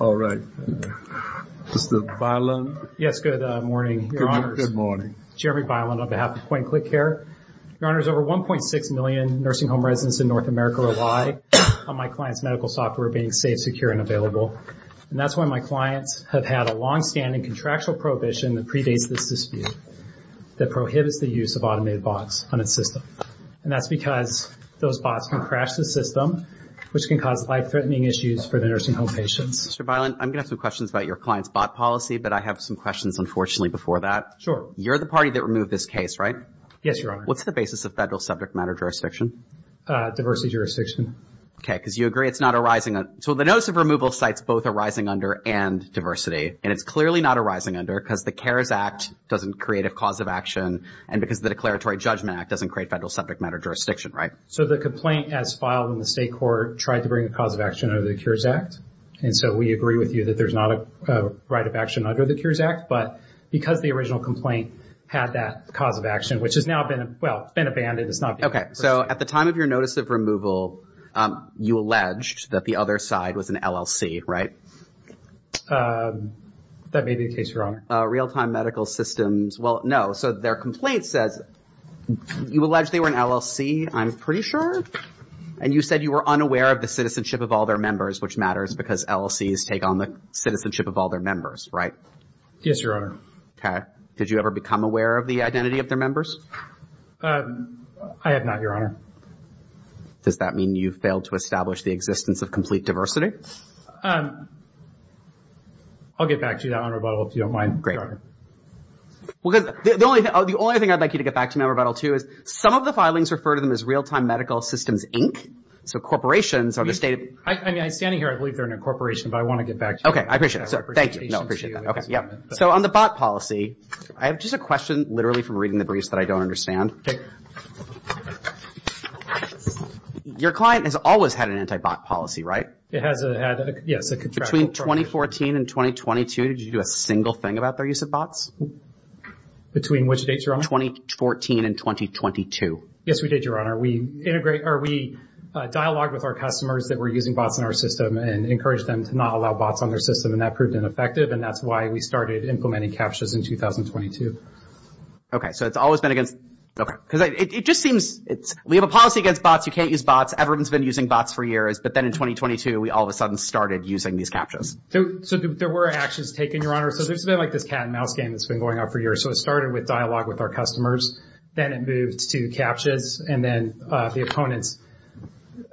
All right. Mr. Bylund? Yes, good morning, Your Honors. Good morning. Jeremy Bylund on behalf of PointClickCare. Your Honors, over 1.6 million nursing home residents in North America rely on my client's medical software being safe, secure, and available. And that's why my clients have had a longstanding contractual prohibition that predates this dispute that prohibits the use of automated bots on a system. And that's because those bots can crash the system, which can cause life-threatening issues for the nursing home patients. Mr. Bylund, I'm going to have some questions about your client's bot policy, but I have some questions, unfortunately, before that. Sure. You're the party that removed this case, right? Yes, Your Honor. What's the basis of federal subject matter jurisdiction? Diversity jurisdiction. Okay, because you agree it's not arising under – so the notice of removal cites both arising under and diversity. And it's clearly not arising under because the CARES Act doesn't create a cause of action and because the Declaratory Judgment Act doesn't create federal subject matter jurisdiction, right? So the complaint, as filed in the state court, tried to bring a cause of action under the CARES Act. And so we agree with you that there's not a right of action under the CARES Act. But because the original complaint had that cause of action, which has now been – well, it's been abandoned. Okay, so at the time of your notice of removal, you alleged that the other side was an LLC, right? That may be the case, Your Honor. Real-time medical systems – well, no. So their complaint says you alleged they were an LLC, I'm pretty sure. And you said you were unaware of the citizenship of all their members, which matters because LLCs take on the citizenship of all their members, right? Yes, Your Honor. Okay. Did you ever become aware of the identity of their members? I have not, Your Honor. Does that mean you failed to establish the existence of complete diversity? I'll get back to you on that one, Rebuttal, if you don't mind, Your Honor. The only thing I'd like you to get back to me on, Rebuttal, too, is some of the filings refer to them as real-time medical systems, inc. So corporations are the state of – I mean, I'm standing here. I believe they're in a corporation, but I want to get back to you. Okay, I appreciate it. Thank you. No, I appreciate that. So on the bot policy, I have just a question literally from reading the briefs that I don't understand. Okay. Your client has always had an anti-bot policy, right? It has had – yes, a contractual policy. Between 2014 and 2022, did you do a single thing about their use of bots? Between which dates, Your Honor? 2014 and 2022. Yes, we did, Your Honor. We integrate – or we dialogue with our customers that were using bots in our system and encourage them to not allow bots on their system, and that proved ineffective, and that's why we started implementing CAPTCHAs in 2022. Okay, so it's always been against – okay. Because it just seems – we have a policy against bots. You can't use bots. Everyone's been using bots for years, but then in 2022, we all of a sudden started using these CAPTCHAs. So there were actions taken, Your Honor. So there's been like this cat and mouse game that's been going on for years. So it started with dialogue with our customers. Then it moved to CAPTCHAs, and then the opponents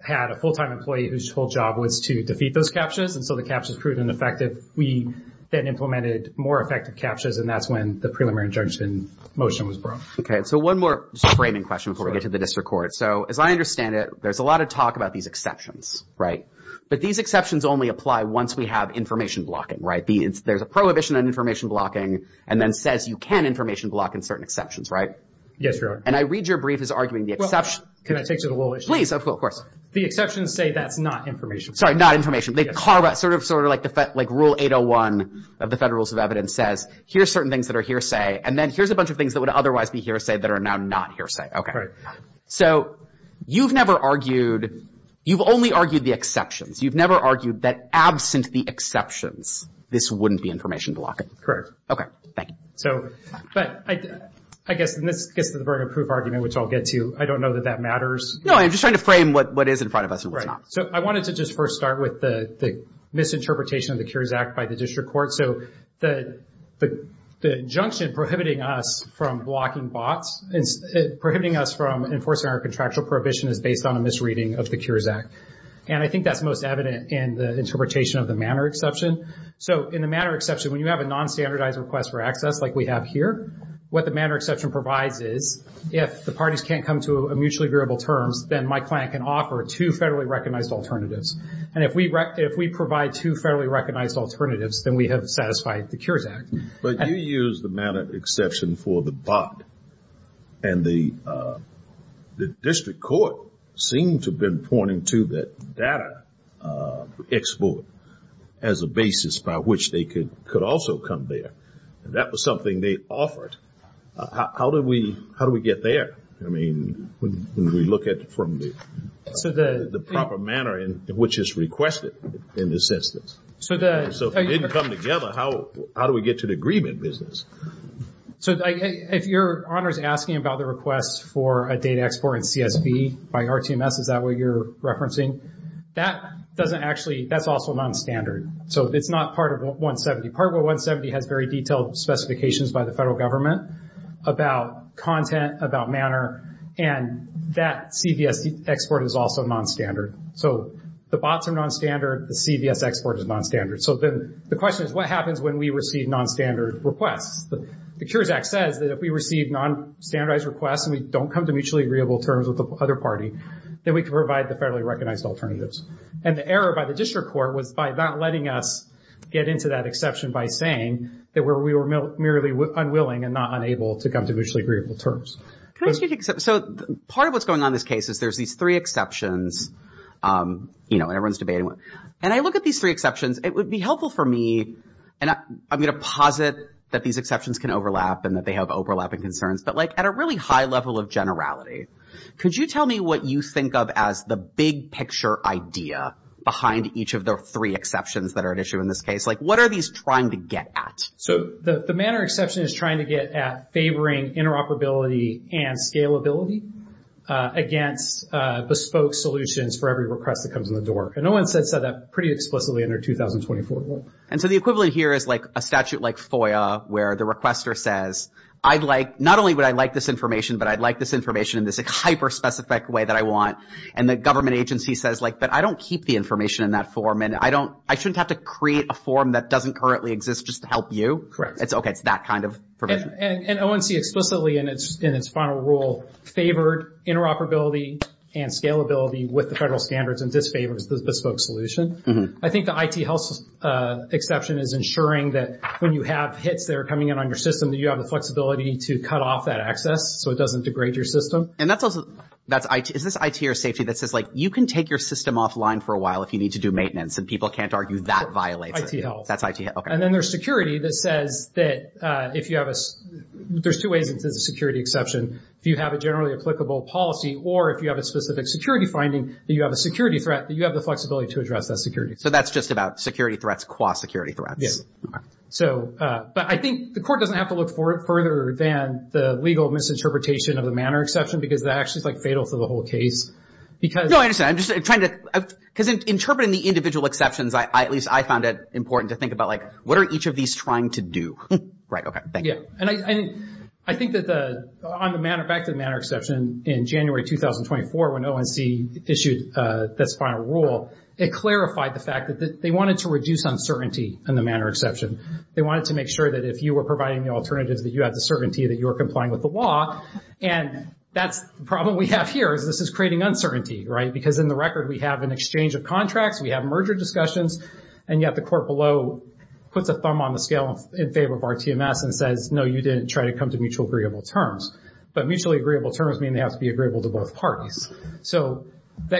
had a full-time employee whose whole job was to defeat those CAPTCHAs, and so the CAPTCHAs proved ineffective. We then implemented more effective CAPTCHAs, and that's when the preliminary injunction motion was brought. Okay, so one more framing question before we get to the district court. So as I understand it, there's a lot of talk about these exceptions, right? But these exceptions only apply once we have information blocking, right? There's a prohibition on information blocking and then says you can information block in certain exceptions, right? Yes, Your Honor. And I read your brief as arguing the exception – Well, can I take to the whole issue? Please, of course. The exceptions say that's not information. Sorry, not information. They carve out sort of like rule 801 of the Federal Rules of Evidence says, here's certain things that are hearsay, and then here's a bunch of things that would otherwise be hearsay that are now not hearsay. Okay. So you've never argued – you've only argued the exceptions. You've never argued that absent the exceptions, this wouldn't be information blocking. Correct. Okay. Thank you. So, but I guess – and this gets to the burden of proof argument, which I'll get to. I don't know that that matters. No, I'm just trying to frame what is in front of us and what's not. Right. So I wanted to just first start with the misinterpretation of the Cures Act by the district court. So the injunction prohibiting us from blocking bots, prohibiting us from enforcing our contractual prohibition is based on a misreading of the Cures Act. And I think that's most evident in the interpretation of the manner exception. So in the manner exception, when you have a nonstandardized request for access like we have here, what the manner exception provides is if the parties can't come to a mutually agreeable terms, then my client can offer two federally recognized alternatives. And if we provide two federally recognized alternatives, then we have satisfied the Cures Act. But you used the manner exception for the bot. And the district court seemed to have been pointing to that data export as a basis by which they could also come there. And that was something they offered. How do we get there? I mean, when we look at it from the proper manner in which it's requested in this instance. So if it didn't come together, how do we get to the agreement business? So if your honor is asking about the request for a data export in CSV by RTMS, is that what you're referencing? That doesn't actually – that's also nonstandard. So it's not part of 170. Part of 170 has very detailed specifications by the federal government about content, about manner, and that CVS export is also nonstandard. So the bots are nonstandard. The CVS export is nonstandard. So the question is, what happens when we receive nonstandard requests? The Cures Act says that if we receive nonstandardized requests and we don't come to mutually agreeable terms with the other party, then we can provide the federally recognized alternatives. And the error by the district court was by not letting us get into that exception by saying that we were merely unwilling and not unable to come to mutually agreeable terms. So part of what's going on in this case is there's these three exceptions. You know, everyone's debating. And I look at these three exceptions. It would be helpful for me, and I'm going to posit that these exceptions can overlap and that they have overlapping concerns, but like at a really high level of generality, could you tell me what you think of as the big picture idea behind each of the three exceptions that are at issue in this case? Like, what are these trying to get at? So the manner exception is trying to get at favoring interoperability and scalability against bespoke solutions for every request that comes in the door. And no one has said that pretty explicitly in their 2024 rule. And so the equivalent here is like a statute like FOIA where the requester says, not only would I like this information, but I'd like this information in this hyper-specific way that I want. And the government agency says, like, but I don't keep the information in that form, and I shouldn't have to create a form that doesn't currently exist just to help you? Correct. Okay, it's that kind of provision. And ONC explicitly in its final rule favored interoperability and scalability with the federal standards and disfavors the bespoke solution. I think the IT health exception is ensuring that when you have hits that are coming in on your system, that you have the flexibility to cut off that access so it doesn't degrade your system. And is this IT or safety that says, like, you can take your system offline for a while if you need to do maintenance, and people can't argue that violates it? IT health. That's IT health, okay. And then there's security that says that if you have a – there's two ways it's a security exception. If you have a generally applicable policy or if you have a specific security finding that you have a security threat, that you have the flexibility to address that security. So that's just about security threats qua security threats? Yes. Okay. So – but I think the court doesn't have to look further than the legal misinterpretation of the manner exception because that actually is, like, fatal to the whole case because – No, I understand. I'm just trying to – because interpreting the individual exceptions, at least I found it important to think about, like, what are each of these trying to do? Right. Okay. Thank you. Yeah. And I think that on the manner – back to the manner exception, in January 2024 when ONC issued this final rule, it clarified the fact that they wanted to reduce uncertainty in the manner exception. They wanted to make sure that if you were providing the alternatives, that you had the certainty that you were complying with the law. And that's the problem we have here is this is creating uncertainty, right, because in the record we have an exchange of contracts, we have merger discussions, and yet the court below puts a thumb on the scale in favor of RTMS and says, no, you didn't try to come to mutual agreeable terms. But mutually agreeable terms mean they have to be agreeable to both parties. So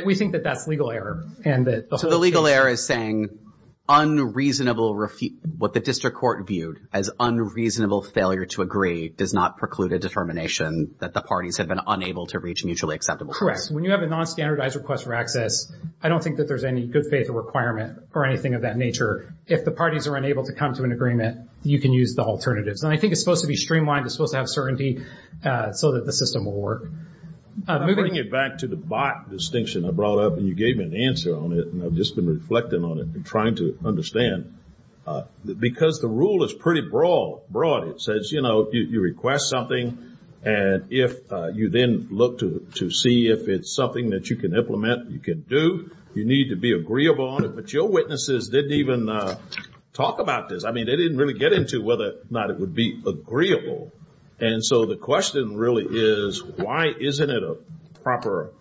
we think that that's legal error. So the legal error is saying unreasonable – what the district court viewed as unreasonable failure to agree does not preclude a determination that the parties have been unable to reach mutually acceptable terms. Correct. When you have a nonstandardized request for access, I don't think that there's any good faith requirement or anything of that nature. If the parties are unable to come to an agreement, you can use the alternatives. And I think it's supposed to be streamlined. It's supposed to have certainty so that the system will work. I'm bringing it back to the bot distinction I brought up, and you gave me an answer on it, and I've just been reflecting on it and trying to understand. Because the rule is pretty broad. It says, you know, you request something, and if you then look to see if it's something that you can implement, you can do, you need to be agreeable on it. But your witnesses didn't even talk about this. I mean, they didn't really get into whether or not it would be agreeable. And so the question really is, why isn't it a proper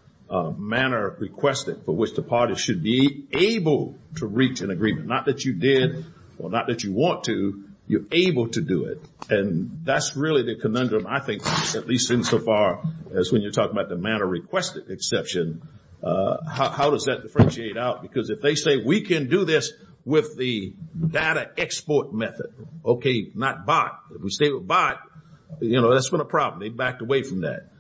manner requested for which the parties should be able to reach an agreement? Not that you did or not that you want to. You're able to do it. And that's really the conundrum, I think, at least insofar as when you're talking about the manner requested exception. How does that differentiate out? Because if they say, we can do this with the data export method, okay, not bot. If we stay with bot, you know, that's not a problem. They backed away from that.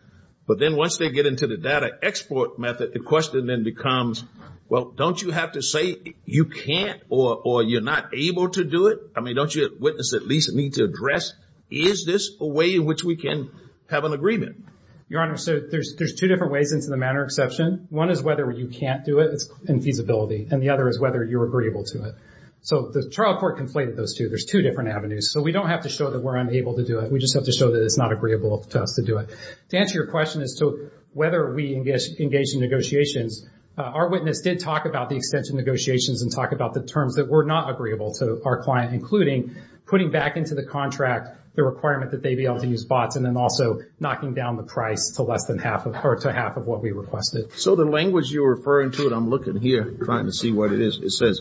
But then once they get into the data export method, the question then becomes, well, don't you have to say you can't or you're not able to do it? I mean, don't your witnesses at least need to address, is this a way in which we can have an agreement? Your Honor, so there's two different ways into the manner exception. One is whether you can't do it. It's infeasibility. And the other is whether you're agreeable to it. So the trial court conflated those two. There's two different avenues. So we don't have to show that we're unable to do it. We just have to show that it's not agreeable to us to do it. To answer your question as to whether we engage in negotiations, our witness did talk about the extension negotiations and talk about the terms that were not agreeable to our client, including putting back into the contract the requirement that they be able to use bots and then also knocking down the price to half of what we requested. So the language you're referring to, and I'm looking here trying to see what it is, it says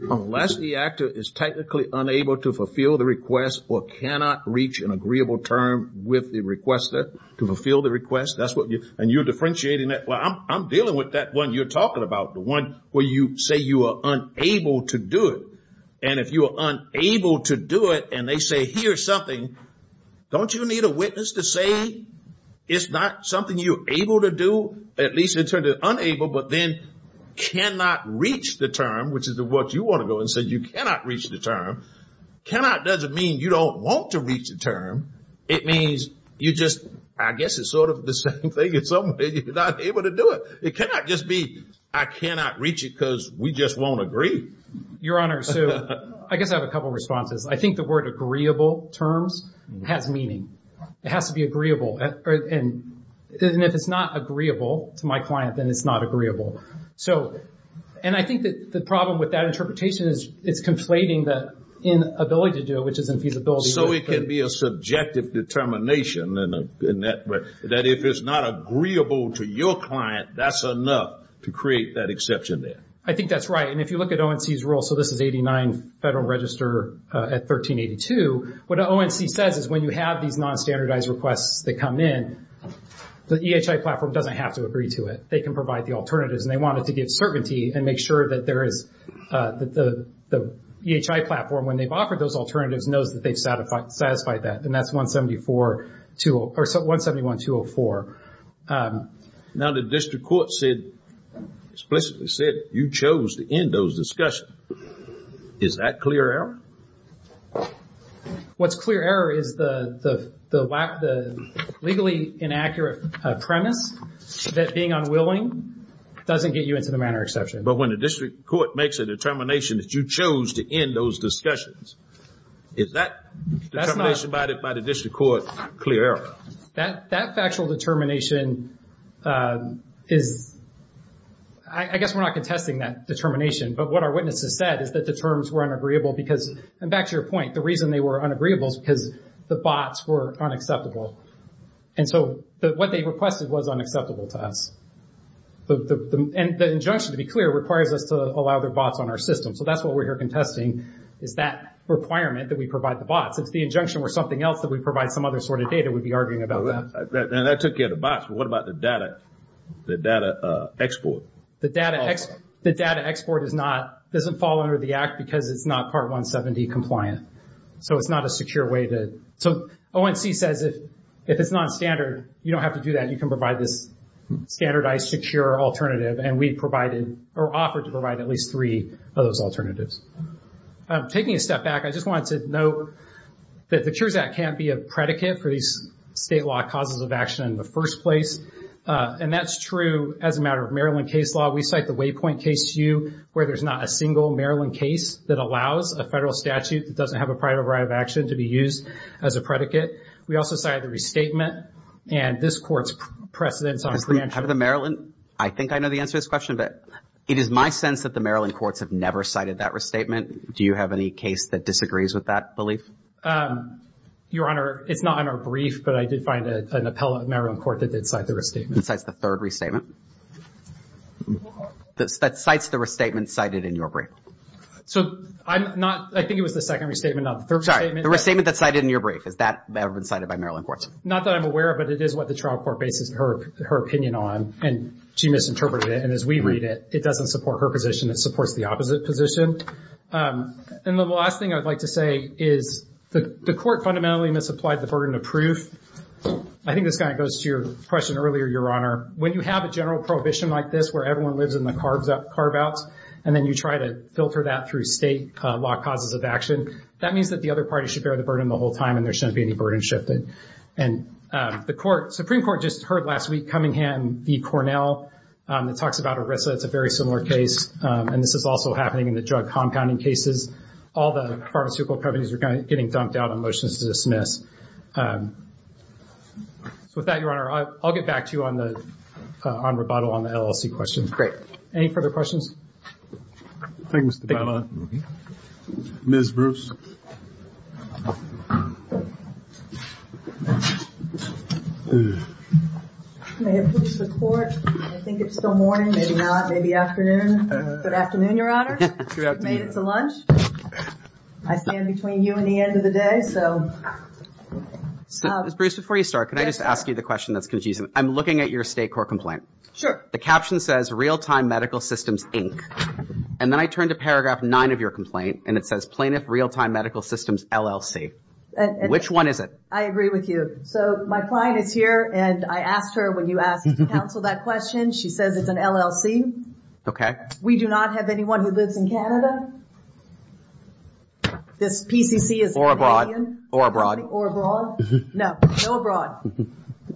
unless the actor is technically unable to fulfill the request or cannot reach an agreeable term with the requester to fulfill the request, and you're differentiating that. Well, I'm dealing with that one you're talking about, the one where you say you are unable to do it. And if you are unable to do it and they say here's something, don't you need a witness to say it's not something you're able to do, at least in terms of unable, but then cannot reach the term, which is what you want to go and say you cannot reach the term. Cannot doesn't mean you don't want to reach the term. It means you just, I guess it's sort of the same thing in some ways. You're not able to do it. It cannot just be I cannot reach it because we just won't agree. Your Honor, so I guess I have a couple of responses. I think the word agreeable terms has meaning. It has to be agreeable. And if it's not agreeable to my client, then it's not agreeable. And I think the problem with that interpretation is it's conflating the inability to do it, which is infeasibility. So it can be a subjective determination, that if it's not agreeable to your client, that's enough to create that exception there. I think that's right. And if you look at ONC's rule, so this is 89 Federal Register at 1382, what ONC says is when you have these non-standardized requests that come in, the EHI platform doesn't have to agree to it. They can provide the alternatives. And they wanted to give certainty and make sure that there is the EHI platform, when they've offered those alternatives, knows that they've satisfied that. And that's 171-204. Now the district court said, explicitly said, you chose to end those discussions. Is that clear error? What's clear error is the legally inaccurate premise that being unwilling doesn't get you into the manner exception. But when the district court makes a determination that you chose to end those discussions, is that determination by the district court clear error? That factual determination is, I guess we're not contesting that determination, but what our witnesses said is that the terms were unagreeable because, and back to your point, the reason they were unagreeable is because the bots were unacceptable. And so what they requested was unacceptable to us. And the injunction, to be clear, requires us to allow the bots on our system. So that's what we're here contesting is that requirement that we provide the bots. If the injunction were something else that we provide some other sort of data, we'd be arguing about that. And that took care of the bots, but what about the data export? The data export doesn't fall under the Act because it's not Part 170 compliant. So it's not a secure way to. So ONC says if it's nonstandard, you don't have to do that. You can provide this standardized secure alternative, and we offered to provide at least three of those alternatives. Taking a step back, I just wanted to note that the Cures Act can't be a predicate for these state law causes of action in the first place. And that's true as a matter of Maryland case law. We cite the Waypoint case to you where there's not a single Maryland case that allows a federal statute that doesn't have a prior override of action to be used as a predicate. We also cited the restatement, and this Court's precedence on... Out of the Maryland, I think I know the answer to this question, but it is my sense that the Maryland courts have never cited that restatement. Do you have any case that disagrees with that belief? Your Honor, it's not on our brief, but I did find an appellate Maryland court that did cite the restatement. That cites the third restatement? That cites the restatement cited in your brief? So I'm not... I think it was the second restatement, not the third statement. Sorry, the restatement that's cited in your brief, has that ever been cited by Maryland courts? Not that I'm aware of, but it is what the trial court bases her opinion on, and she misinterpreted it. And as we read it, it doesn't support her position. It supports the opposite position. And the last thing I would like to say is the court fundamentally misapplied the burden of proof. I think this kind of goes to your question earlier, Your Honor. When you have a general prohibition like this, where everyone lives in the carve-outs, and then you try to filter that through state law causes of action, that means that the other party should bear the burden the whole time and there shouldn't be any burden shifted. And the Supreme Court just heard last week Cummingham v. Cornell. It talks about ERISA. It's a very similar case, and this is also happening in the drug compounding cases. All the pharmaceutical companies are getting dumped out on motions to dismiss. So with that, Your Honor, I'll get back to you on rebuttal on the LLC questions. Any further questions? Thank you, Mr. Belmont. Ms. Bruce. May it please the Court, I think it's still morning, maybe not, maybe afternoon. Good afternoon, Your Honor. Good afternoon. I made it to lunch. I stand between you and the end of the day, so... Ms. Bruce, before you start, can I just ask you the question that's confusing? I'm looking at your state court complaint. Sure. The caption says, Real-Time Medical Systems, Inc. And then I turned to paragraph 9 of your complaint, and it says, Plaintiff Real-Time Medical Systems, LLC. Which one is it? I agree with you. So my client is here, and I asked her, when you asked to counsel that question, she says it's an LLC. Okay. We do not have anyone who lives in Canada. This PCC is Canadian. Or abroad. Or abroad. No. No abroad.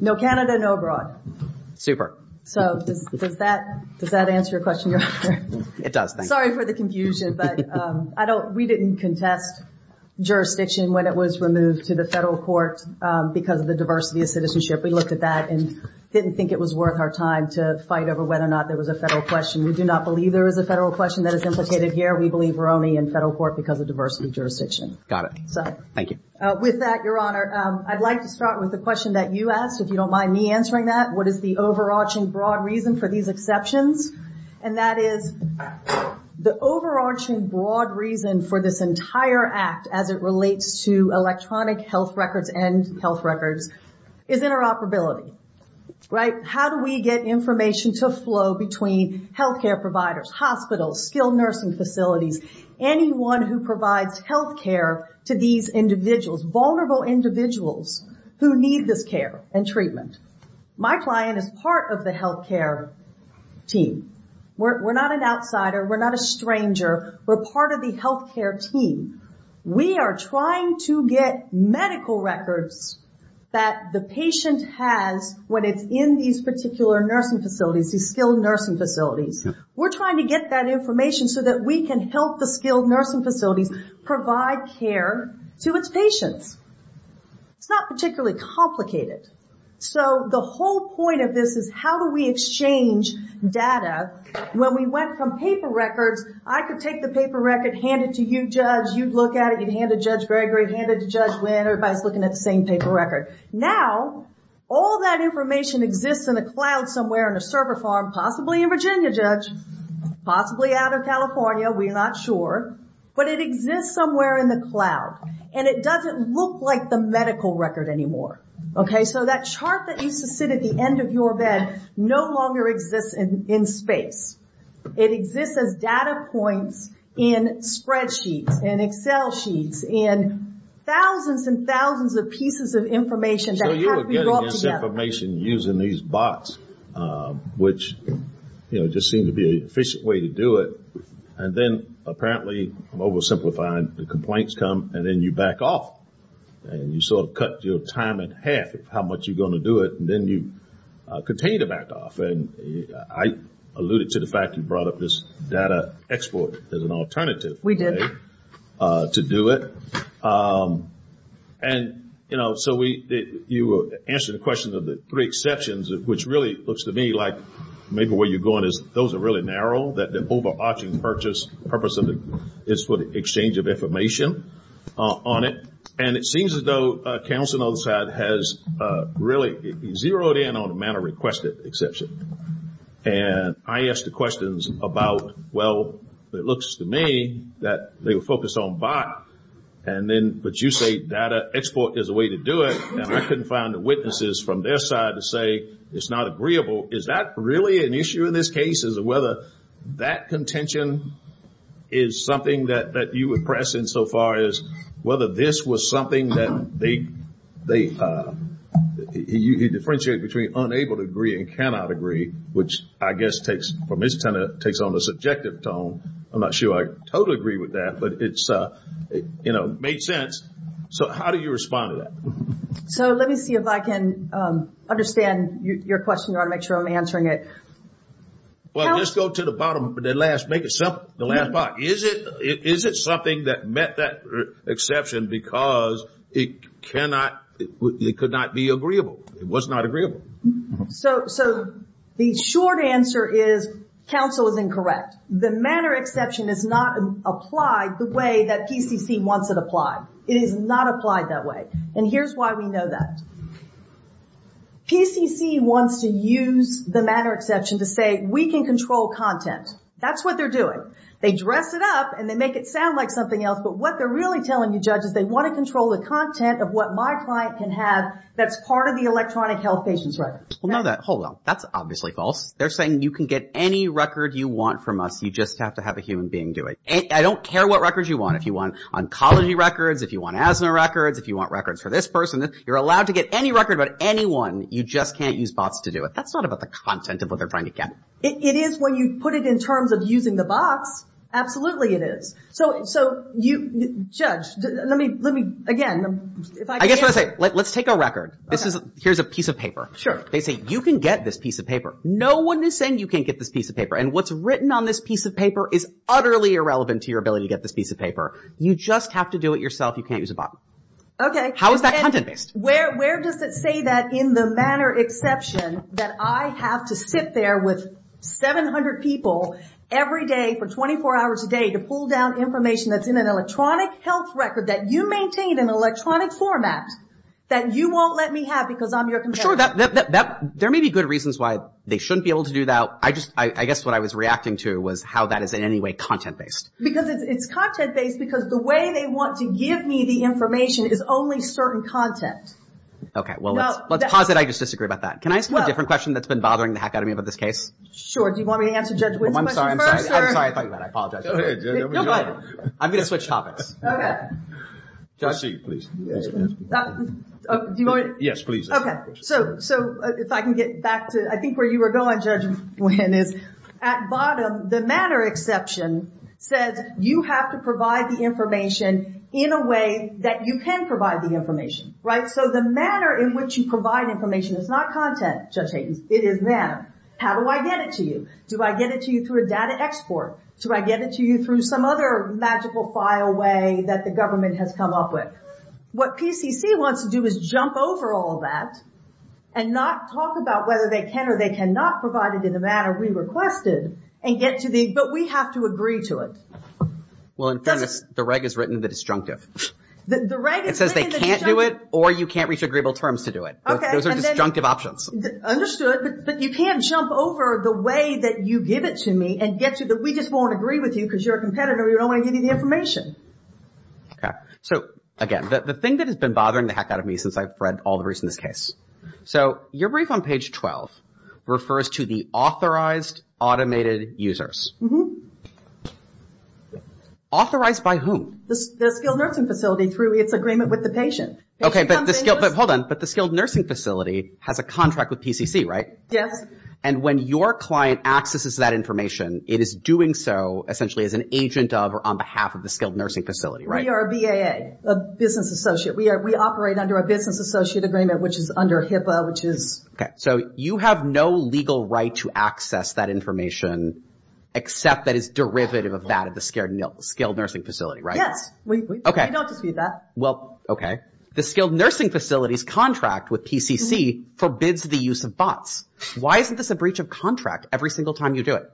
No Canada, no abroad. Super. So does that answer your question, Your Honor? It does, thank you. Sorry for the confusion, but we didn't contest jurisdiction when it was removed to the federal court because of the diversity of citizenship. We looked at that and didn't think it was worth our time to fight over whether or not there was a federal question. We do not believe there is a federal question that is implicated here. We believe we're only in federal court because of diversity of jurisdiction. Got it. Thank you. With that, Your Honor, I'd like to start with the question that you asked, if you don't mind me answering that. What is the overarching broad reason for these exceptions? And that is, the overarching broad reason for this entire act as it relates to electronic health records and health records is interoperability, right? How do we get information to flow between health care providers, hospitals, skilled nursing facilities, anyone who provides health care to these individuals, vulnerable individuals who need this care and treatment? My client is part of the health care team. We're not an outsider. We're not a stranger. We're part of the health care team. We are trying to get medical records that the patient has when it's in these particular nursing facilities, these skilled nursing facilities. We're trying to get that information so that we can help the skilled nursing facilities provide care to its patients. It's not particularly complicated. So the whole point of this is how do we exchange data? When we went from paper records, I could take the paper record, hand it to you, Judge, you'd look at it, you'd hand it to Judge Gregory, hand it to Judge Wynn, everybody's looking at the same paper record. Now, all that information exists in a cloud somewhere in a server farm, possibly in Virginia, Judge, possibly out of California, we're not sure, but it exists somewhere in the cloud. And it doesn't look like the medical record anymore. So that chart that used to sit at the end of your bed no longer exists in space. It exists as data points in spreadsheets, in Excel sheets, in thousands and thousands of pieces of information that have to be brought together. So you were getting this information using these bots, which just seemed to be an efficient way to do it. And then apparently, oversimplifying, the complaints come, and then you back off. And you sort of cut your time in half of how much you're going to do it, and then you continue to back off. And I alluded to the fact you brought up this data export as an alternative. We did. To do it. And, you know, so you answered the question of the three exceptions, which really looks to me like maybe where you're going is those are really narrow, that the overarching purpose is for the exchange of information on it. And it seems as though counsel on the other side has really zeroed in on the manner requested exception. And I asked the questions about, well, it looks to me that they were focused on bot, but you say data export is a way to do it, and I couldn't find the witnesses from their side to say it's not agreeable. Is that really an issue in this case, as to whether that contention is something that you would press insofar as whether this was something that they, he differentiated between unable to agree and cannot agree, which I guess takes, from his tenet, takes on a subjective tone. I'm not sure I totally agree with that, but it's, you know, made sense. So how do you respond to that? So let me see if I can understand your question. I want to make sure I'm answering it. Well, let's go to the bottom, the last, make it simple, the last part. Is it something that met that exception because it cannot, it could not be agreeable? It was not agreeable. So the short answer is counsel is incorrect. The manner exception is not applied the way that PCC wants it applied. It is not applied that way. And here's why we know that. PCC wants to use the manner exception to say we can control content. That's what they're doing. They dress it up and they make it sound like something else, but what they're really telling you, Judge, is they want to control the content of what my client can have that's part of the electronic health patient's record. Well, no, hold on. That's obviously false. They're saying you can get any record you want from us. You just have to have a human being do it. I don't care what records you want. If you want oncology records, if you want asthma records, if you want records for this person, you're allowed to get any record about anyone. You just can't use bots to do it. That's not about the content of what they're trying to get. It is when you put it in terms of using the bots. Absolutely it is. So, Judge, let me, again, if I can answer. I guess what I'll say, let's take a record. Here's a piece of paper. Sure. They say you can get this piece of paper. No one is saying you can't get this piece of paper, and what's written on this piece of paper is utterly irrelevant to your ability to get this piece of paper. You just have to do it yourself. You can't use a bot. Okay. How is that content-based? Where does it say that in the manner exception that I have to sit there with 700 people every day for 24 hours a day to pull down information that's in an electronic health record that you maintain in an electronic format that you won't let me have because I'm your competitor? Sure. There may be good reasons why they shouldn't be able to do that. I guess what I was reacting to was how that is in any way content-based. Because it's content-based because the way they want to give me the information is only certain content. Okay. Well, let's pause it. I just disagree about that. Can I ask you a different question that's been bothering the hackademy about this case? Do you want me to answer Judge Wynn's question first? I'm sorry. I'm sorry. I thought you might. I apologize. Go ahead, Judge. No, go ahead. I'm going to switch topics. Just you, please. Do you want me to? Yes, please. Okay. If I can get back to I think where you were going, Judge Wynn, is at bottom the manner exception says you have to provide the information in a way that you can provide the information. Right? So the manner in which you provide information is not content, Judge Hayden. It is manner. How do I get it to you? Do I get it to you through a data export? Do I get it to you through some other magical file way that the government has come up with? What PCC wants to do is jump over all that and not talk about whether they can or they cannot provide it in the manner we requested and get to the, but we have to agree to it. Well, in fairness, the reg has written the disjunctive. The reg has written the disjunctive. You have to agree to it or you can't reach agreeable terms to do it. Okay. Those are disjunctive options. Understood. But you can't jump over the way that you give it to me and get to the, we just won't agree with you because you're a competitor. We don't want to give you the information. Okay. So, again, the thing that has been bothering the heck out of me since I've read all the briefs in this case. So your brief on page 12 refers to the authorized automated users. Authorized by whom? The skilled nursing facility through its agreement with the patient. Okay, but the skilled, hold on, but the skilled nursing facility has a contract with PCC, right? Yes. And when your client accesses that information, it is doing so essentially as an agent of or on behalf of the skilled nursing facility, right? We are a BAA, a business associate. We operate under a business associate agreement, which is under HIPAA, which is. Okay. So you have no legal right to access that information except that it's derivative of that at the skilled nursing facility, right? Yes. We don't dispute that. Well, okay. The skilled nursing facility's contract with PCC forbids the use of bots. Why isn't this a breach of contract every single time you do it?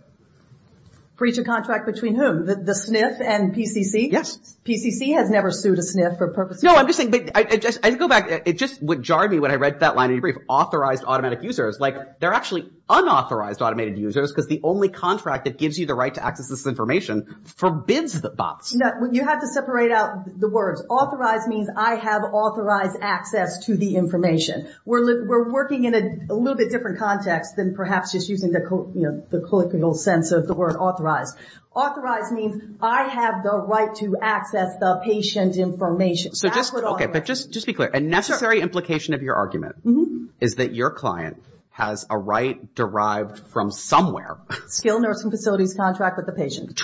Breach of contract between whom? The SNF and PCC? Yes. PCC has never sued a SNF for purposes of. No, I'm just saying. I go back. It just would jar me when I read that line in your brief. Authorized automatic users. Like, they're actually unauthorized automated users because the only contract that gives you the right to access this information forbids the bots. You have to separate out the words. Authorized means I have authorized access to the information. We're working in a little bit different context than perhaps just using the colloquial sense of the word authorized. Authorized means I have the right to access the patient information. But just be clear. A necessary implication of your argument is that your client has a right derived from somewhere. Skilled nursing facility's contract with the patient.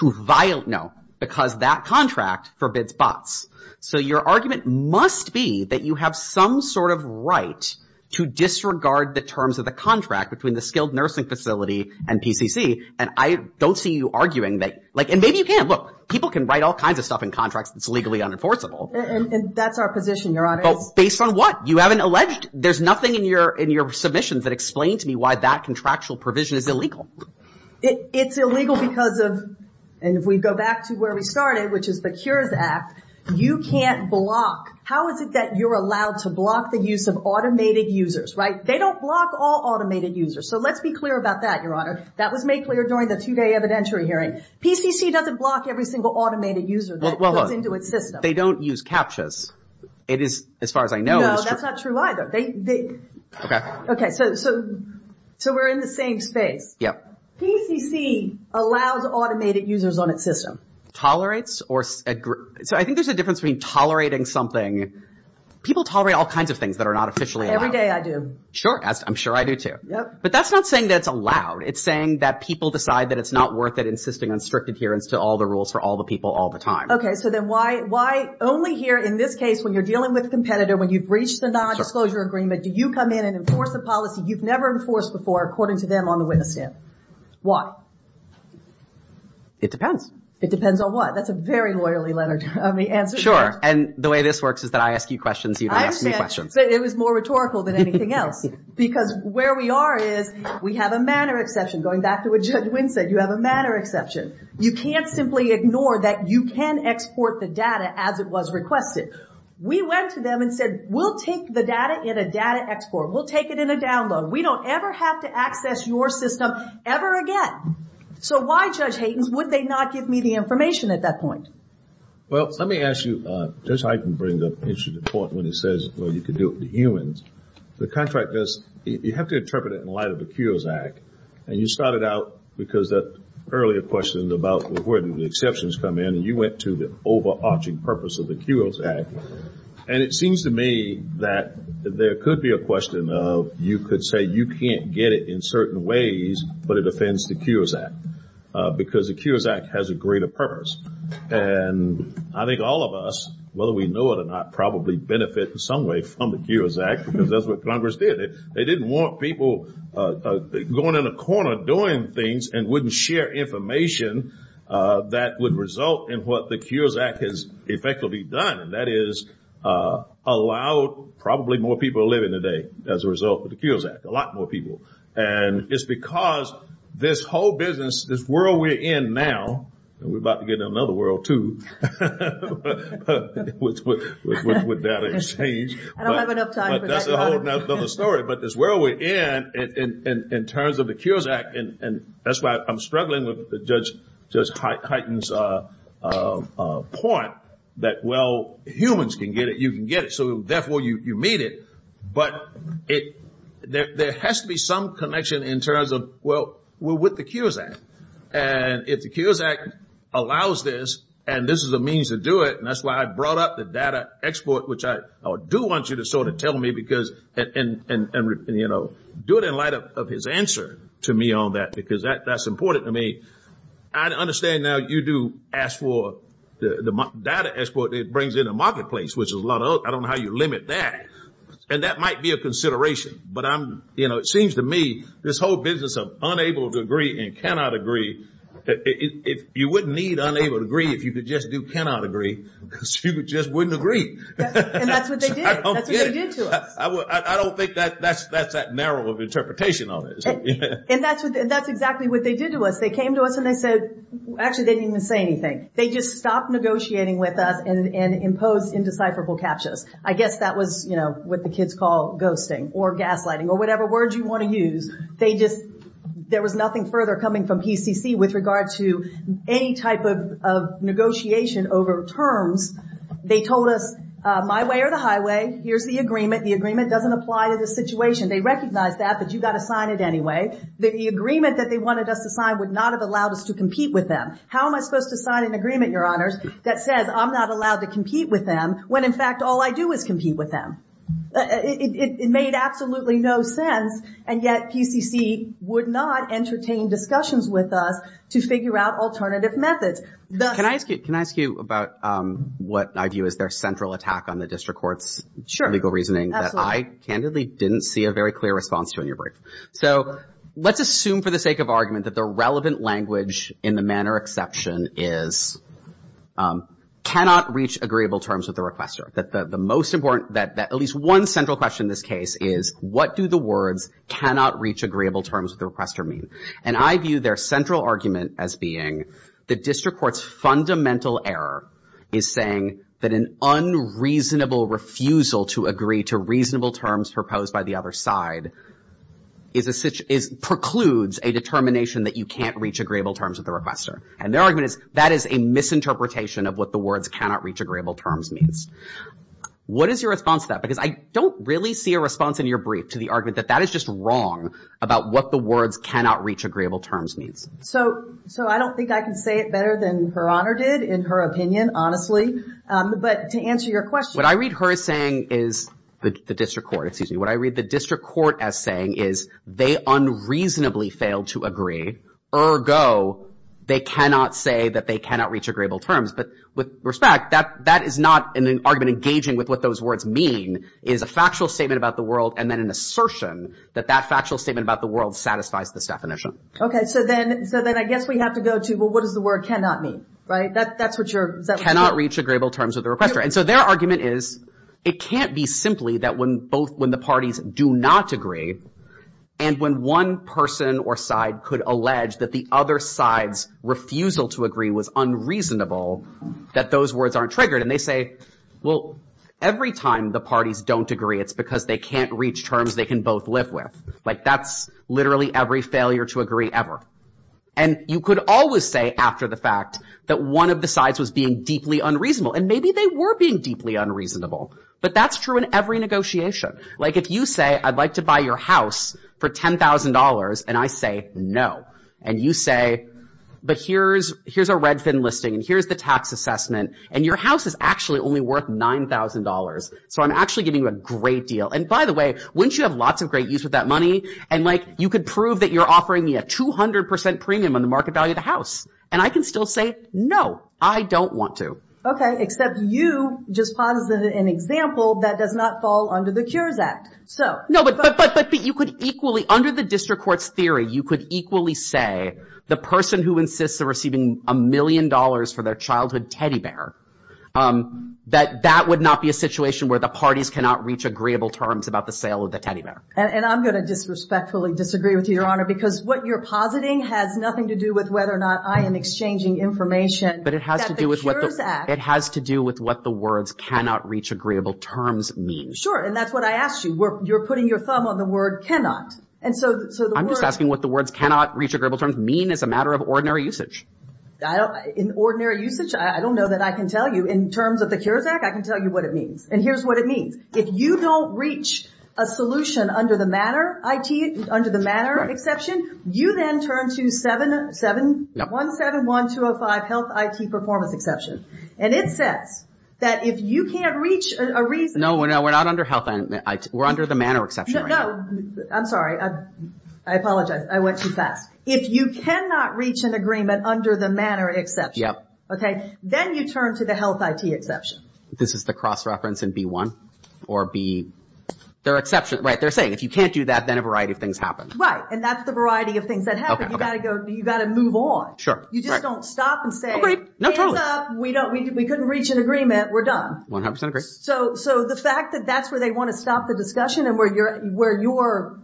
No, because that contract forbids bots. So your argument must be that you have some sort of right to disregard the terms of the contract between the skilled nursing facility and PCC. And I don't see you arguing that. And maybe you can. Look, people can write all kinds of stuff in contracts that's legally unenforceable. And that's our position, Your Honor. Based on what? You haven't alleged. There's nothing in your submissions that explains to me why that contractual provision is illegal. It's illegal because of, and if we go back to where we started, which is the Cures Act, you can't block. How is it that you're allowed to block the use of automated users, right? They don't block all automated users. So let's be clear about that, Your Honor. That was made clear during the two-day evidentiary hearing. PCC doesn't block every single automated user that goes into its system. They don't use CAPTCHAs. It is, as far as I know. No, that's not true either. Okay. Okay, so we're in the same space. Yep. PCC allows automated users on its system. Tolerates? So I think there's a difference between tolerating something. People tolerate all kinds of things that are not officially allowed. Every day I do. Sure, I'm sure I do too. Yep. But that's not saying that it's allowed. It's saying that people decide that it's not worth it, insisting on strict adherence to all the rules for all the people all the time. Okay, so then why only here in this case when you're dealing with a competitor, when you've reached the non-disclosure agreement, do you come in and enforce a policy you've never enforced before, according to them on the witness stand? Why? It depends. It depends on what? That's a very loyally answered question. Sure, and the way this works is that I ask you questions, you don't ask me questions. It was more rhetorical than anything else. Because where we are is we have a manner exception. Going back to what Judge Wynn said, you have a manner exception. You can't simply ignore that you can export the data as it was requested. We went to them and said, we'll take the data in a data export. We'll take it in a download. We don't ever have to access your system ever again. So why, Judge Hayden, would they not give me the information at that point? Well, let me ask you. Judge Hayden brings up an interesting point when he says, well, you can do it with humans. The contract does. You have to interpret it in light of the Cures Act. And you started out because that earlier question about where do the exceptions come in, and you went to the overarching purpose of the Cures Act. And it seems to me that there could be a question of you could say you can't get it in certain ways, but it offends the Cures Act, because the Cures Act has a greater purpose. And I think all of us, whether we know it or not, probably benefit in some way from the Cures Act, because that's what Congress did. They didn't want people going in a corner doing things and wouldn't share information that would result in what the Cures Act has effectively done. And that is allow probably more people to live in today as a result of the Cures Act, a lot more people. And it's because this whole business, this world we're in now, and we're about to get in another world too, which would be out of this stage. I don't have enough time for that. But that's a whole other story. But this world we're in, in terms of the Cures Act, and that's why I'm struggling with Judge Hayden's point that, well, humans can get it, you can get it, so therefore you meet it. But there has to be some connection in terms of, well, we're with the Cures Act. And if the Cures Act allows this and this is a means to do it, and that's why I brought up the data export, which I do want you to sort of tell me because, and, you know, do it in light of his answer to me on that, because that's important to me. I understand now you do ask for the data export that brings in a marketplace, which is a lot of, I don't know how you limit that. And that might be a consideration. But, you know, it seems to me this whole business of unable to agree and cannot agree, you wouldn't need unable to agree if you could just do cannot agree because you just wouldn't agree. And that's what they did. That's what they did to us. I don't think that's that narrow of an interpretation on it. And that's exactly what they did to us. They came to us and they said, actually, they didn't even say anything. They just stopped negotiating with us and imposed indecipherable captures. I guess that was, you know, what the kids call ghosting or gaslighting or whatever word you want to use. They just, there was nothing further coming from PCC with regard to any type of negotiation over terms. They told us, my way or the highway, here's the agreement. The agreement doesn't apply to this situation. They recognize that, but you've got to sign it anyway. The agreement that they wanted us to sign would not have allowed us to compete with them. How am I supposed to sign an agreement, Your Honors, that says I'm not allowed to compete with them when, in fact, all I do is compete with them? It made absolutely no sense, and yet PCC would not entertain discussions with us to figure out alternative methods. Can I ask you about what I view as their central attack on the district court's legal reasoning that I candidly didn't see a very clear response to in your brief? So let's assume for the sake of argument that the relevant language in the manner exception is cannot reach agreeable terms with the requester. The most important, at least one central question in this case is, what do the words cannot reach agreeable terms with the requester mean? And I view their central argument as being the district court's fundamental error is saying that an unreasonable refusal to agree to reasonable terms proposed by the other side precludes a determination that you can't reach agreeable terms with the requester. And their argument is that is a misinterpretation of what the words cannot reach agreeable terms means. What is your response to that? Because I don't really see a response in your brief to the argument that that is just wrong about what the words cannot reach agreeable terms means. So I don't think I can say it better than Her Honor did, in her opinion, honestly. But to answer your question. What I read her as saying is the district court, excuse me. What I read the district court as saying is they unreasonably failed to agree. Ergo, they cannot say that they cannot reach agreeable terms. But with respect, that is not an argument engaging with what those words mean. It is a factual statement about the world and then an assertion that that factual statement about the world satisfies this definition. Okay. So then I guess we have to go to, well, what does the word cannot mean? Right? That's what you're saying. Cannot reach agreeable terms with the requester. And so their argument is it can't be simply that when the parties do not agree and when one person or side could allege that the other side's refusal to agree was unreasonable, that those words aren't triggered. And they say, well, every time the parties don't agree, it's because they can't reach terms they can both live with. Like, that's literally every failure to agree ever. And you could always say after the fact that one of the sides was being deeply unreasonable. But that's true in every negotiation. Like, if you say I'd like to buy your house for $10,000 and I say no. And you say, but here's a Redfin listing and here's the tax assessment. And your house is actually only worth $9,000. So I'm actually giving you a great deal. And by the way, wouldn't you have lots of great use of that money? And, like, you could prove that you're offering me a 200% premium on the market value of the house. And I can still say no, I don't want to. Okay. Except you just posited an example that does not fall under the Cures Act. No, but you could equally, under the district court's theory, you could equally say the person who insists on receiving a million dollars for their childhood teddy bear, that that would not be a situation where the parties cannot reach agreeable terms about the sale of the teddy bear. And I'm going to disrespectfully disagree with you, Your Honor, because what you're positing has nothing to do with whether or not I am exchanging information at the Cures Act. It has to do with what the words cannot reach agreeable terms mean. And that's what I asked you. You're putting your thumb on the word cannot. I'm just asking what the words cannot reach agreeable terms mean as a matter of ordinary usage. In ordinary usage, I don't know that I can tell you. In terms of the Cures Act, I can tell you what it means. And here's what it means. If you don't reach a solution under the matter exception, you then turn to 171205 health IT performance exception. And it says that if you can't reach a reason... No, we're not under health IT. We're under the manner exception right now. I'm sorry. I apologize. I went too fast. If you cannot reach an agreement under the manner exception, then you turn to the health IT exception. This is the cross-reference in B1? Or B... They're saying if you can't do that, then a variety of things happen. Right. And that's the variety of things that happen. You've got to move on. You just don't stop and say... No, totally. Hands up. We couldn't reach an agreement. We're done. 100% agree. So the fact that that's where they want to stop the discussion and where your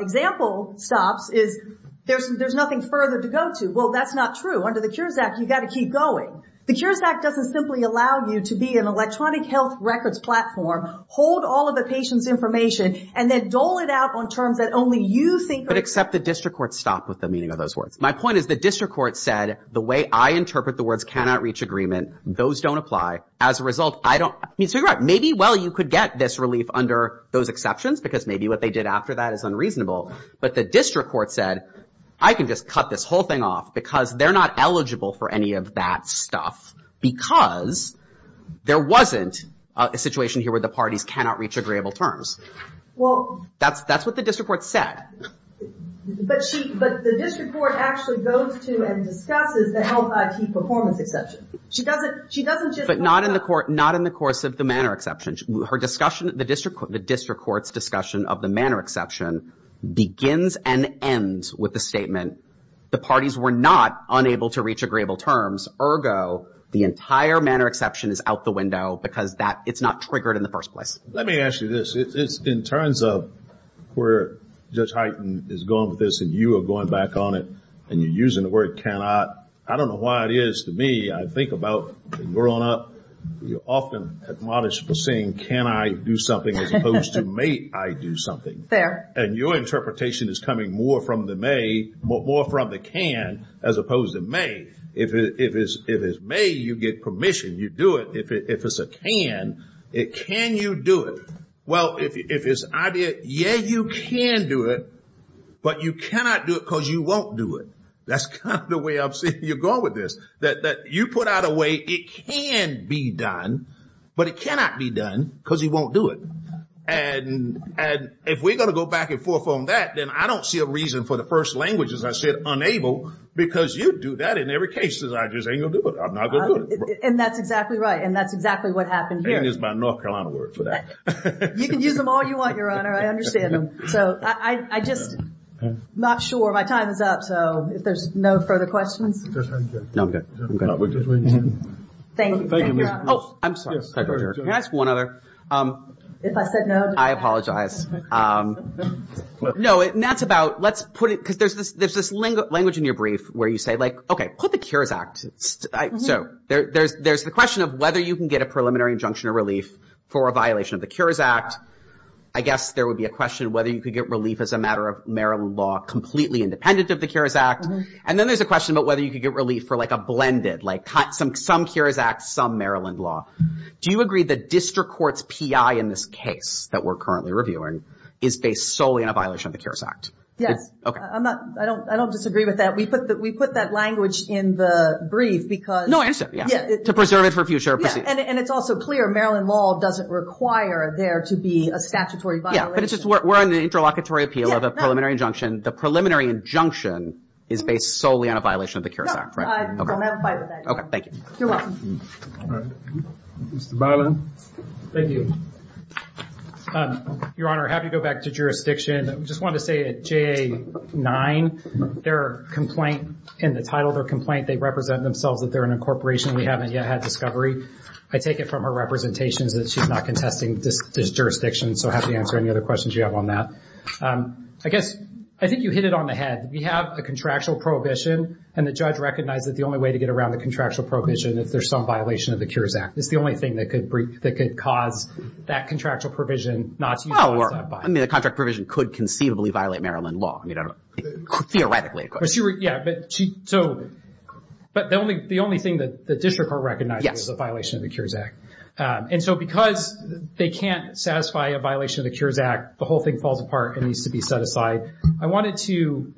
example stops is there's nothing further to go to. Well, that's not true. Under the Cures Act, you've got to keep going. The Cures Act doesn't simply allow you to be an electronic health records platform, hold all of the patient's information, and then dole it out on terms that only you think are... I would accept the district court's stop with the meaning of those words. My point is the district court said the way I interpret the words cannot reach agreement, those don't apply. As a result, I don't... So you're right. Maybe, well, you could get this relief under those exceptions because maybe what they did after that is unreasonable. But the district court said I can just cut this whole thing off because they're not eligible for any of that stuff because there wasn't a situation here where the parties cannot reach agreeable terms. Well... That's what the district court said. But the district court actually goes to and discusses the health IT performance exception. She doesn't just... But not in the course of the manner exceptions. Her discussion, the district court's discussion of the manner exception begins and ends with the statement, the parties were not unable to reach agreeable terms. Ergo, the entire manner exception is out the window because it's not triggered in the first place. Let me ask you this. In terms of where Judge Hyten is going with this and you are going back on it and you're using the word cannot, I don't know why it is to me. I think about growing up, you're often admonished for saying can I do something as opposed to may I do something. Fair. And your interpretation is coming more from the may, more from the can, as opposed to may. If it's may, you get permission. You do it. If it's a can, can you do it? Well, if it's idea, yeah, you can do it, but you cannot do it because you won't do it. That's kind of the way I'm seeing you going with this. That you put out a way it can be done, but it cannot be done because you won't do it. And if we're going to go back and forth on that, then I don't see a reason for the first language, as I said, unable, because you do that in every case. I just ain't going to do it. I'm not going to do it. And that's exactly right. And that's exactly what happened here. And is my North Carolina word for that. You can use them all you want, Your Honor. I understand them. So I'm just not sure. My time is up. So if there's no further questions. No, I'm good. I'm good. Thank you. Oh, I'm sorry. Can I ask one other? If I said no. I apologize. No, and that's about, let's put it, because there's this language in your brief where you say, like, okay, put the Cures Act. So there's the question of whether you can get a preliminary injunction or relief for a violation of the Cures Act. I guess there would be a question of whether you could get relief as a matter of Maryland law completely independent of the Cures Act. And then there's a question about whether you could get relief for, like, a blended, like, some Cures Act, some Maryland law. Do you agree the district court's PI in this case that we're currently reviewing is based solely on a violation of the Cures Act? Yes. I don't disagree with that. We put that language in the brief because. No, I understand. Yeah. To preserve it for future proceedings. Yeah, and it's also clear Maryland law doesn't require there to be a statutory violation. Yeah, but it's just we're on the interlocutory appeal of a preliminary injunction. The preliminary injunction is based solely on a violation of the Cures Act, right? No, I don't have a fight with that. Okay. Thank you. You're welcome. All right. Mr. Byland. Thank you. Your Honor, happy to go back to jurisdiction. I just wanted to say at JA-9, their complaint in the title, their complaint, they represent themselves that they're an incorporation. We haven't yet had discovery. I take it from her representations that she's not contesting this jurisdiction, so happy to answer any other questions you have on that. I guess, I think you hit it on the head. We have a contractual prohibition, and the judge recognized that the only way to get around the contractual prohibition if there's some violation of the Cures Act. It's the only thing that could cause that contractual provision not to be satisfied. I mean, the contract provision could conceivably violate Maryland law. I mean, theoretically, of course. Yeah, but the only thing that the district court recognized was a violation of the Cures Act. Yes. And so, because they can't satisfy a violation of the Cures Act, the whole thing falls apart and needs to be set aside. I wanted to,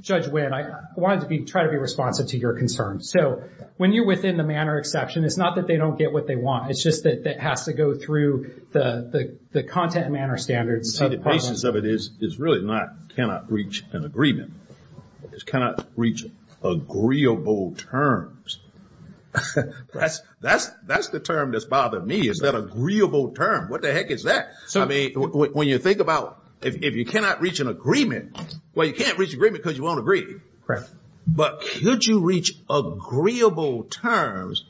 Judge Winn, I wanted to try to be responsive to your concerns. So, when you're within the manner exception, it's not that they don't get what they want. It's just that it has to go through the content and manner standards. See, the basis of it is really not cannot reach an agreement. It's cannot reach agreeable terms. That's the term that's bothering me, is that agreeable term. What the heck is that? I mean, when you think about if you cannot reach an agreement, well, you can't reach an agreement because you won't agree. Correct. But could you reach agreeable terms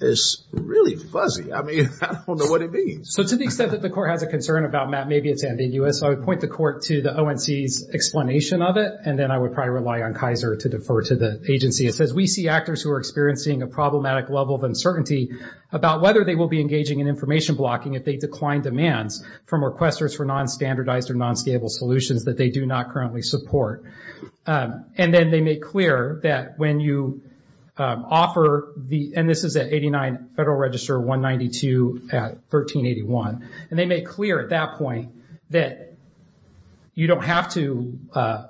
is really fuzzy. I mean, I don't know what it means. So, to the extent that the court has a concern about that, maybe it's ambiguous. I would point the court to the ONC's explanation of it, and then I would probably rely on Kaiser to defer to the agency. It says, we see actors who are experiencing a problematic level of uncertainty about whether they will be engaging in information blocking if they decline demands from requesters for non-standardized or non-scalable solutions that they do not currently support. And then they make clear that when you offer, and this is at 89 Federal Register, 192 at 1381. And they make clear at that point that you don't have to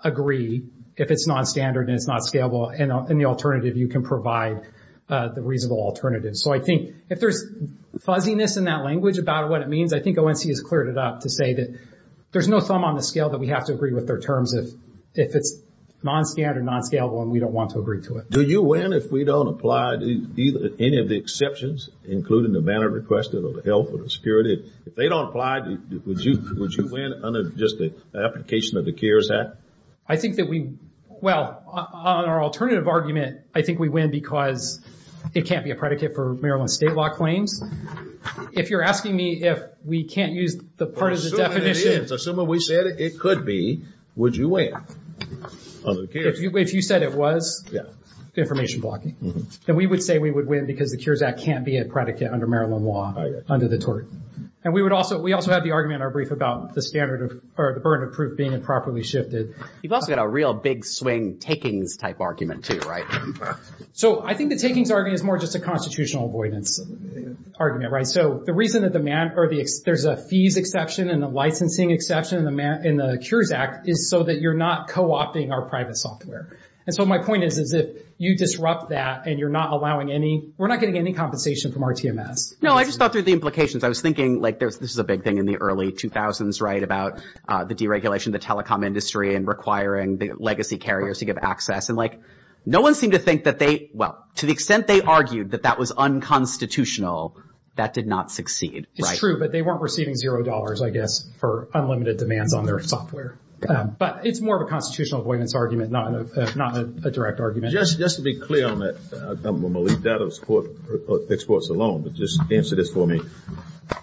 agree if it's non-standard and it's not scalable, and the alternative you can provide the reasonable alternative. So, I think if there's fuzziness in that language about what it means, I think ONC has cleared it up to say that there's no thumb on the scale that we have to agree with their terms if it's non-standard, non-scalable, and we don't want to agree to it. Do you win if we don't apply any of the exceptions, including the manner requested or the health or the security? If they don't apply, would you win under just the application of the CARES Act? I think that we, well, on our alternative argument, I think we win because it can't be a predicate for Maryland state law claims. If you're asking me if we can't use the part of the definition. Assuming we said it could be, would you win under the CARES Act? If you said it was information blocking, then we would say we would win because the CARES Act can't be a predicate under Maryland law under the tort. And we also had the argument in our brief about the burden of proof being improperly shifted. You've also got a real big swing takings type argument, too, right? So, I think the takings argument is more just a constitutional avoidance argument, right? So, the reason that there's a fees exception and a licensing exception in the CARES Act is so that you're not co-opting our private software. And so, my point is, is if you disrupt that and you're not allowing any, we're not getting any compensation from our TMS. No, I just thought through the implications. I was thinking, like, this was a big thing in the early 2000s, right, about the deregulation of the telecom industry and requiring the legacy carriers to give access. And, like, no one seemed to think that they, well, to the extent they argued that that was unconstitutional, that did not succeed, right? It's true, but they weren't receiving zero dollars, I guess, for unlimited demands on their software. But it's more of a constitutional avoidance argument, not a direct argument. Just to be clear on that, I'm going to leave data exports alone, but just answer this for me.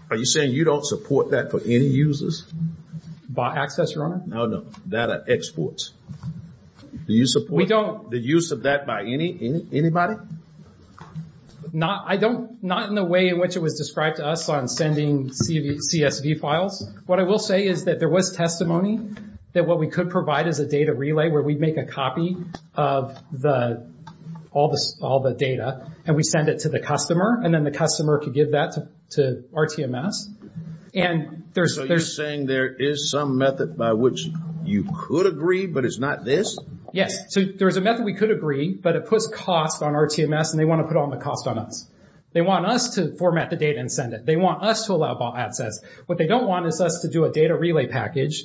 Are you saying you don't support that for any users? By access, Your Honor? No, no, data exports. Do you support the use of that by anybody? Not in the way in which it was described to us on sending CSV files. What I will say is that there was testimony that what we could provide is a data relay where we'd make a copy of all the data and we'd send it to the customer, and then the customer could give that to RTMS. So you're saying there is some method by which you could agree, but it's not this? Yes. So there's a method we could agree, but it puts cost on RTMS, and they want to put all the cost on us. They want us to format the data and send it. They want us to allow by access. What they don't want is us to do a data relay package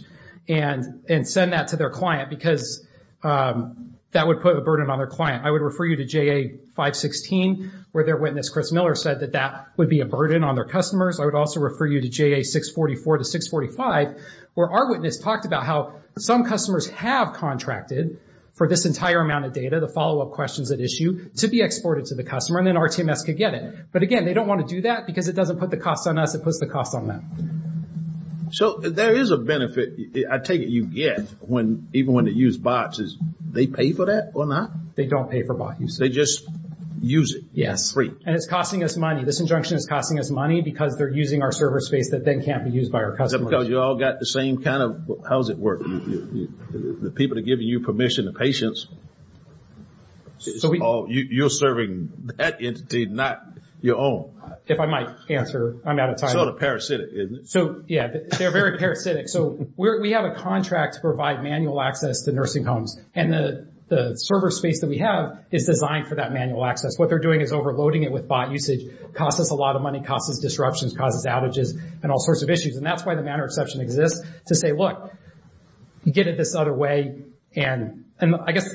and send that to their client because that would put a burden on their client. I would refer you to JA 516 where their witness, Chris Miller, said that that would be a burden on their customers. I would also refer you to JA 644 to 645 where our witness talked about how some customers have contracted for this entire amount of data, the follow-up questions at issue, to be exported to the customer, and then RTMS could get it. But, again, they don't want to do that because it doesn't put the cost on us, it puts the cost on them. So there is a benefit, I take it you get, even when they use bots, is they pay for that or not? They don't pay for bot use. They just use it for free. Yes, and it's costing us money. This injunction is costing us money because they're using our server space that then can't be used by our customers. Is that because you all got the same kind of – how does it work? The people that are giving you permission, the patients, you're serving that entity, not your own? If I might answer, I'm out of time. It's sort of parasitic, isn't it? Yeah, they're very parasitic. So we have a contract to provide manual access to nursing homes, and the server space that we have is designed for that manual access. What they're doing is overloading it with bot usage, costs us a lot of money, costs us disruptions, causes outages, and all sorts of issues. And that's why the manner exception exists, to say, look, you get it this other way. And I guess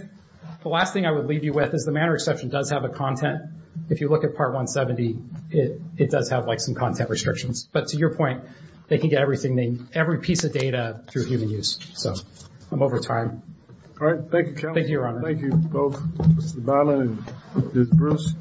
the last thing I would leave you with is the manner exception does have a content. If you look at Part 170, it does have, like, some content restrictions. But to your point, they can get everything, every piece of data through human use. So I'm over time. All right, thank you, Kevin. Thank you, Your Honor. Thank you both, Mr. Bannon and Ms. Bruce.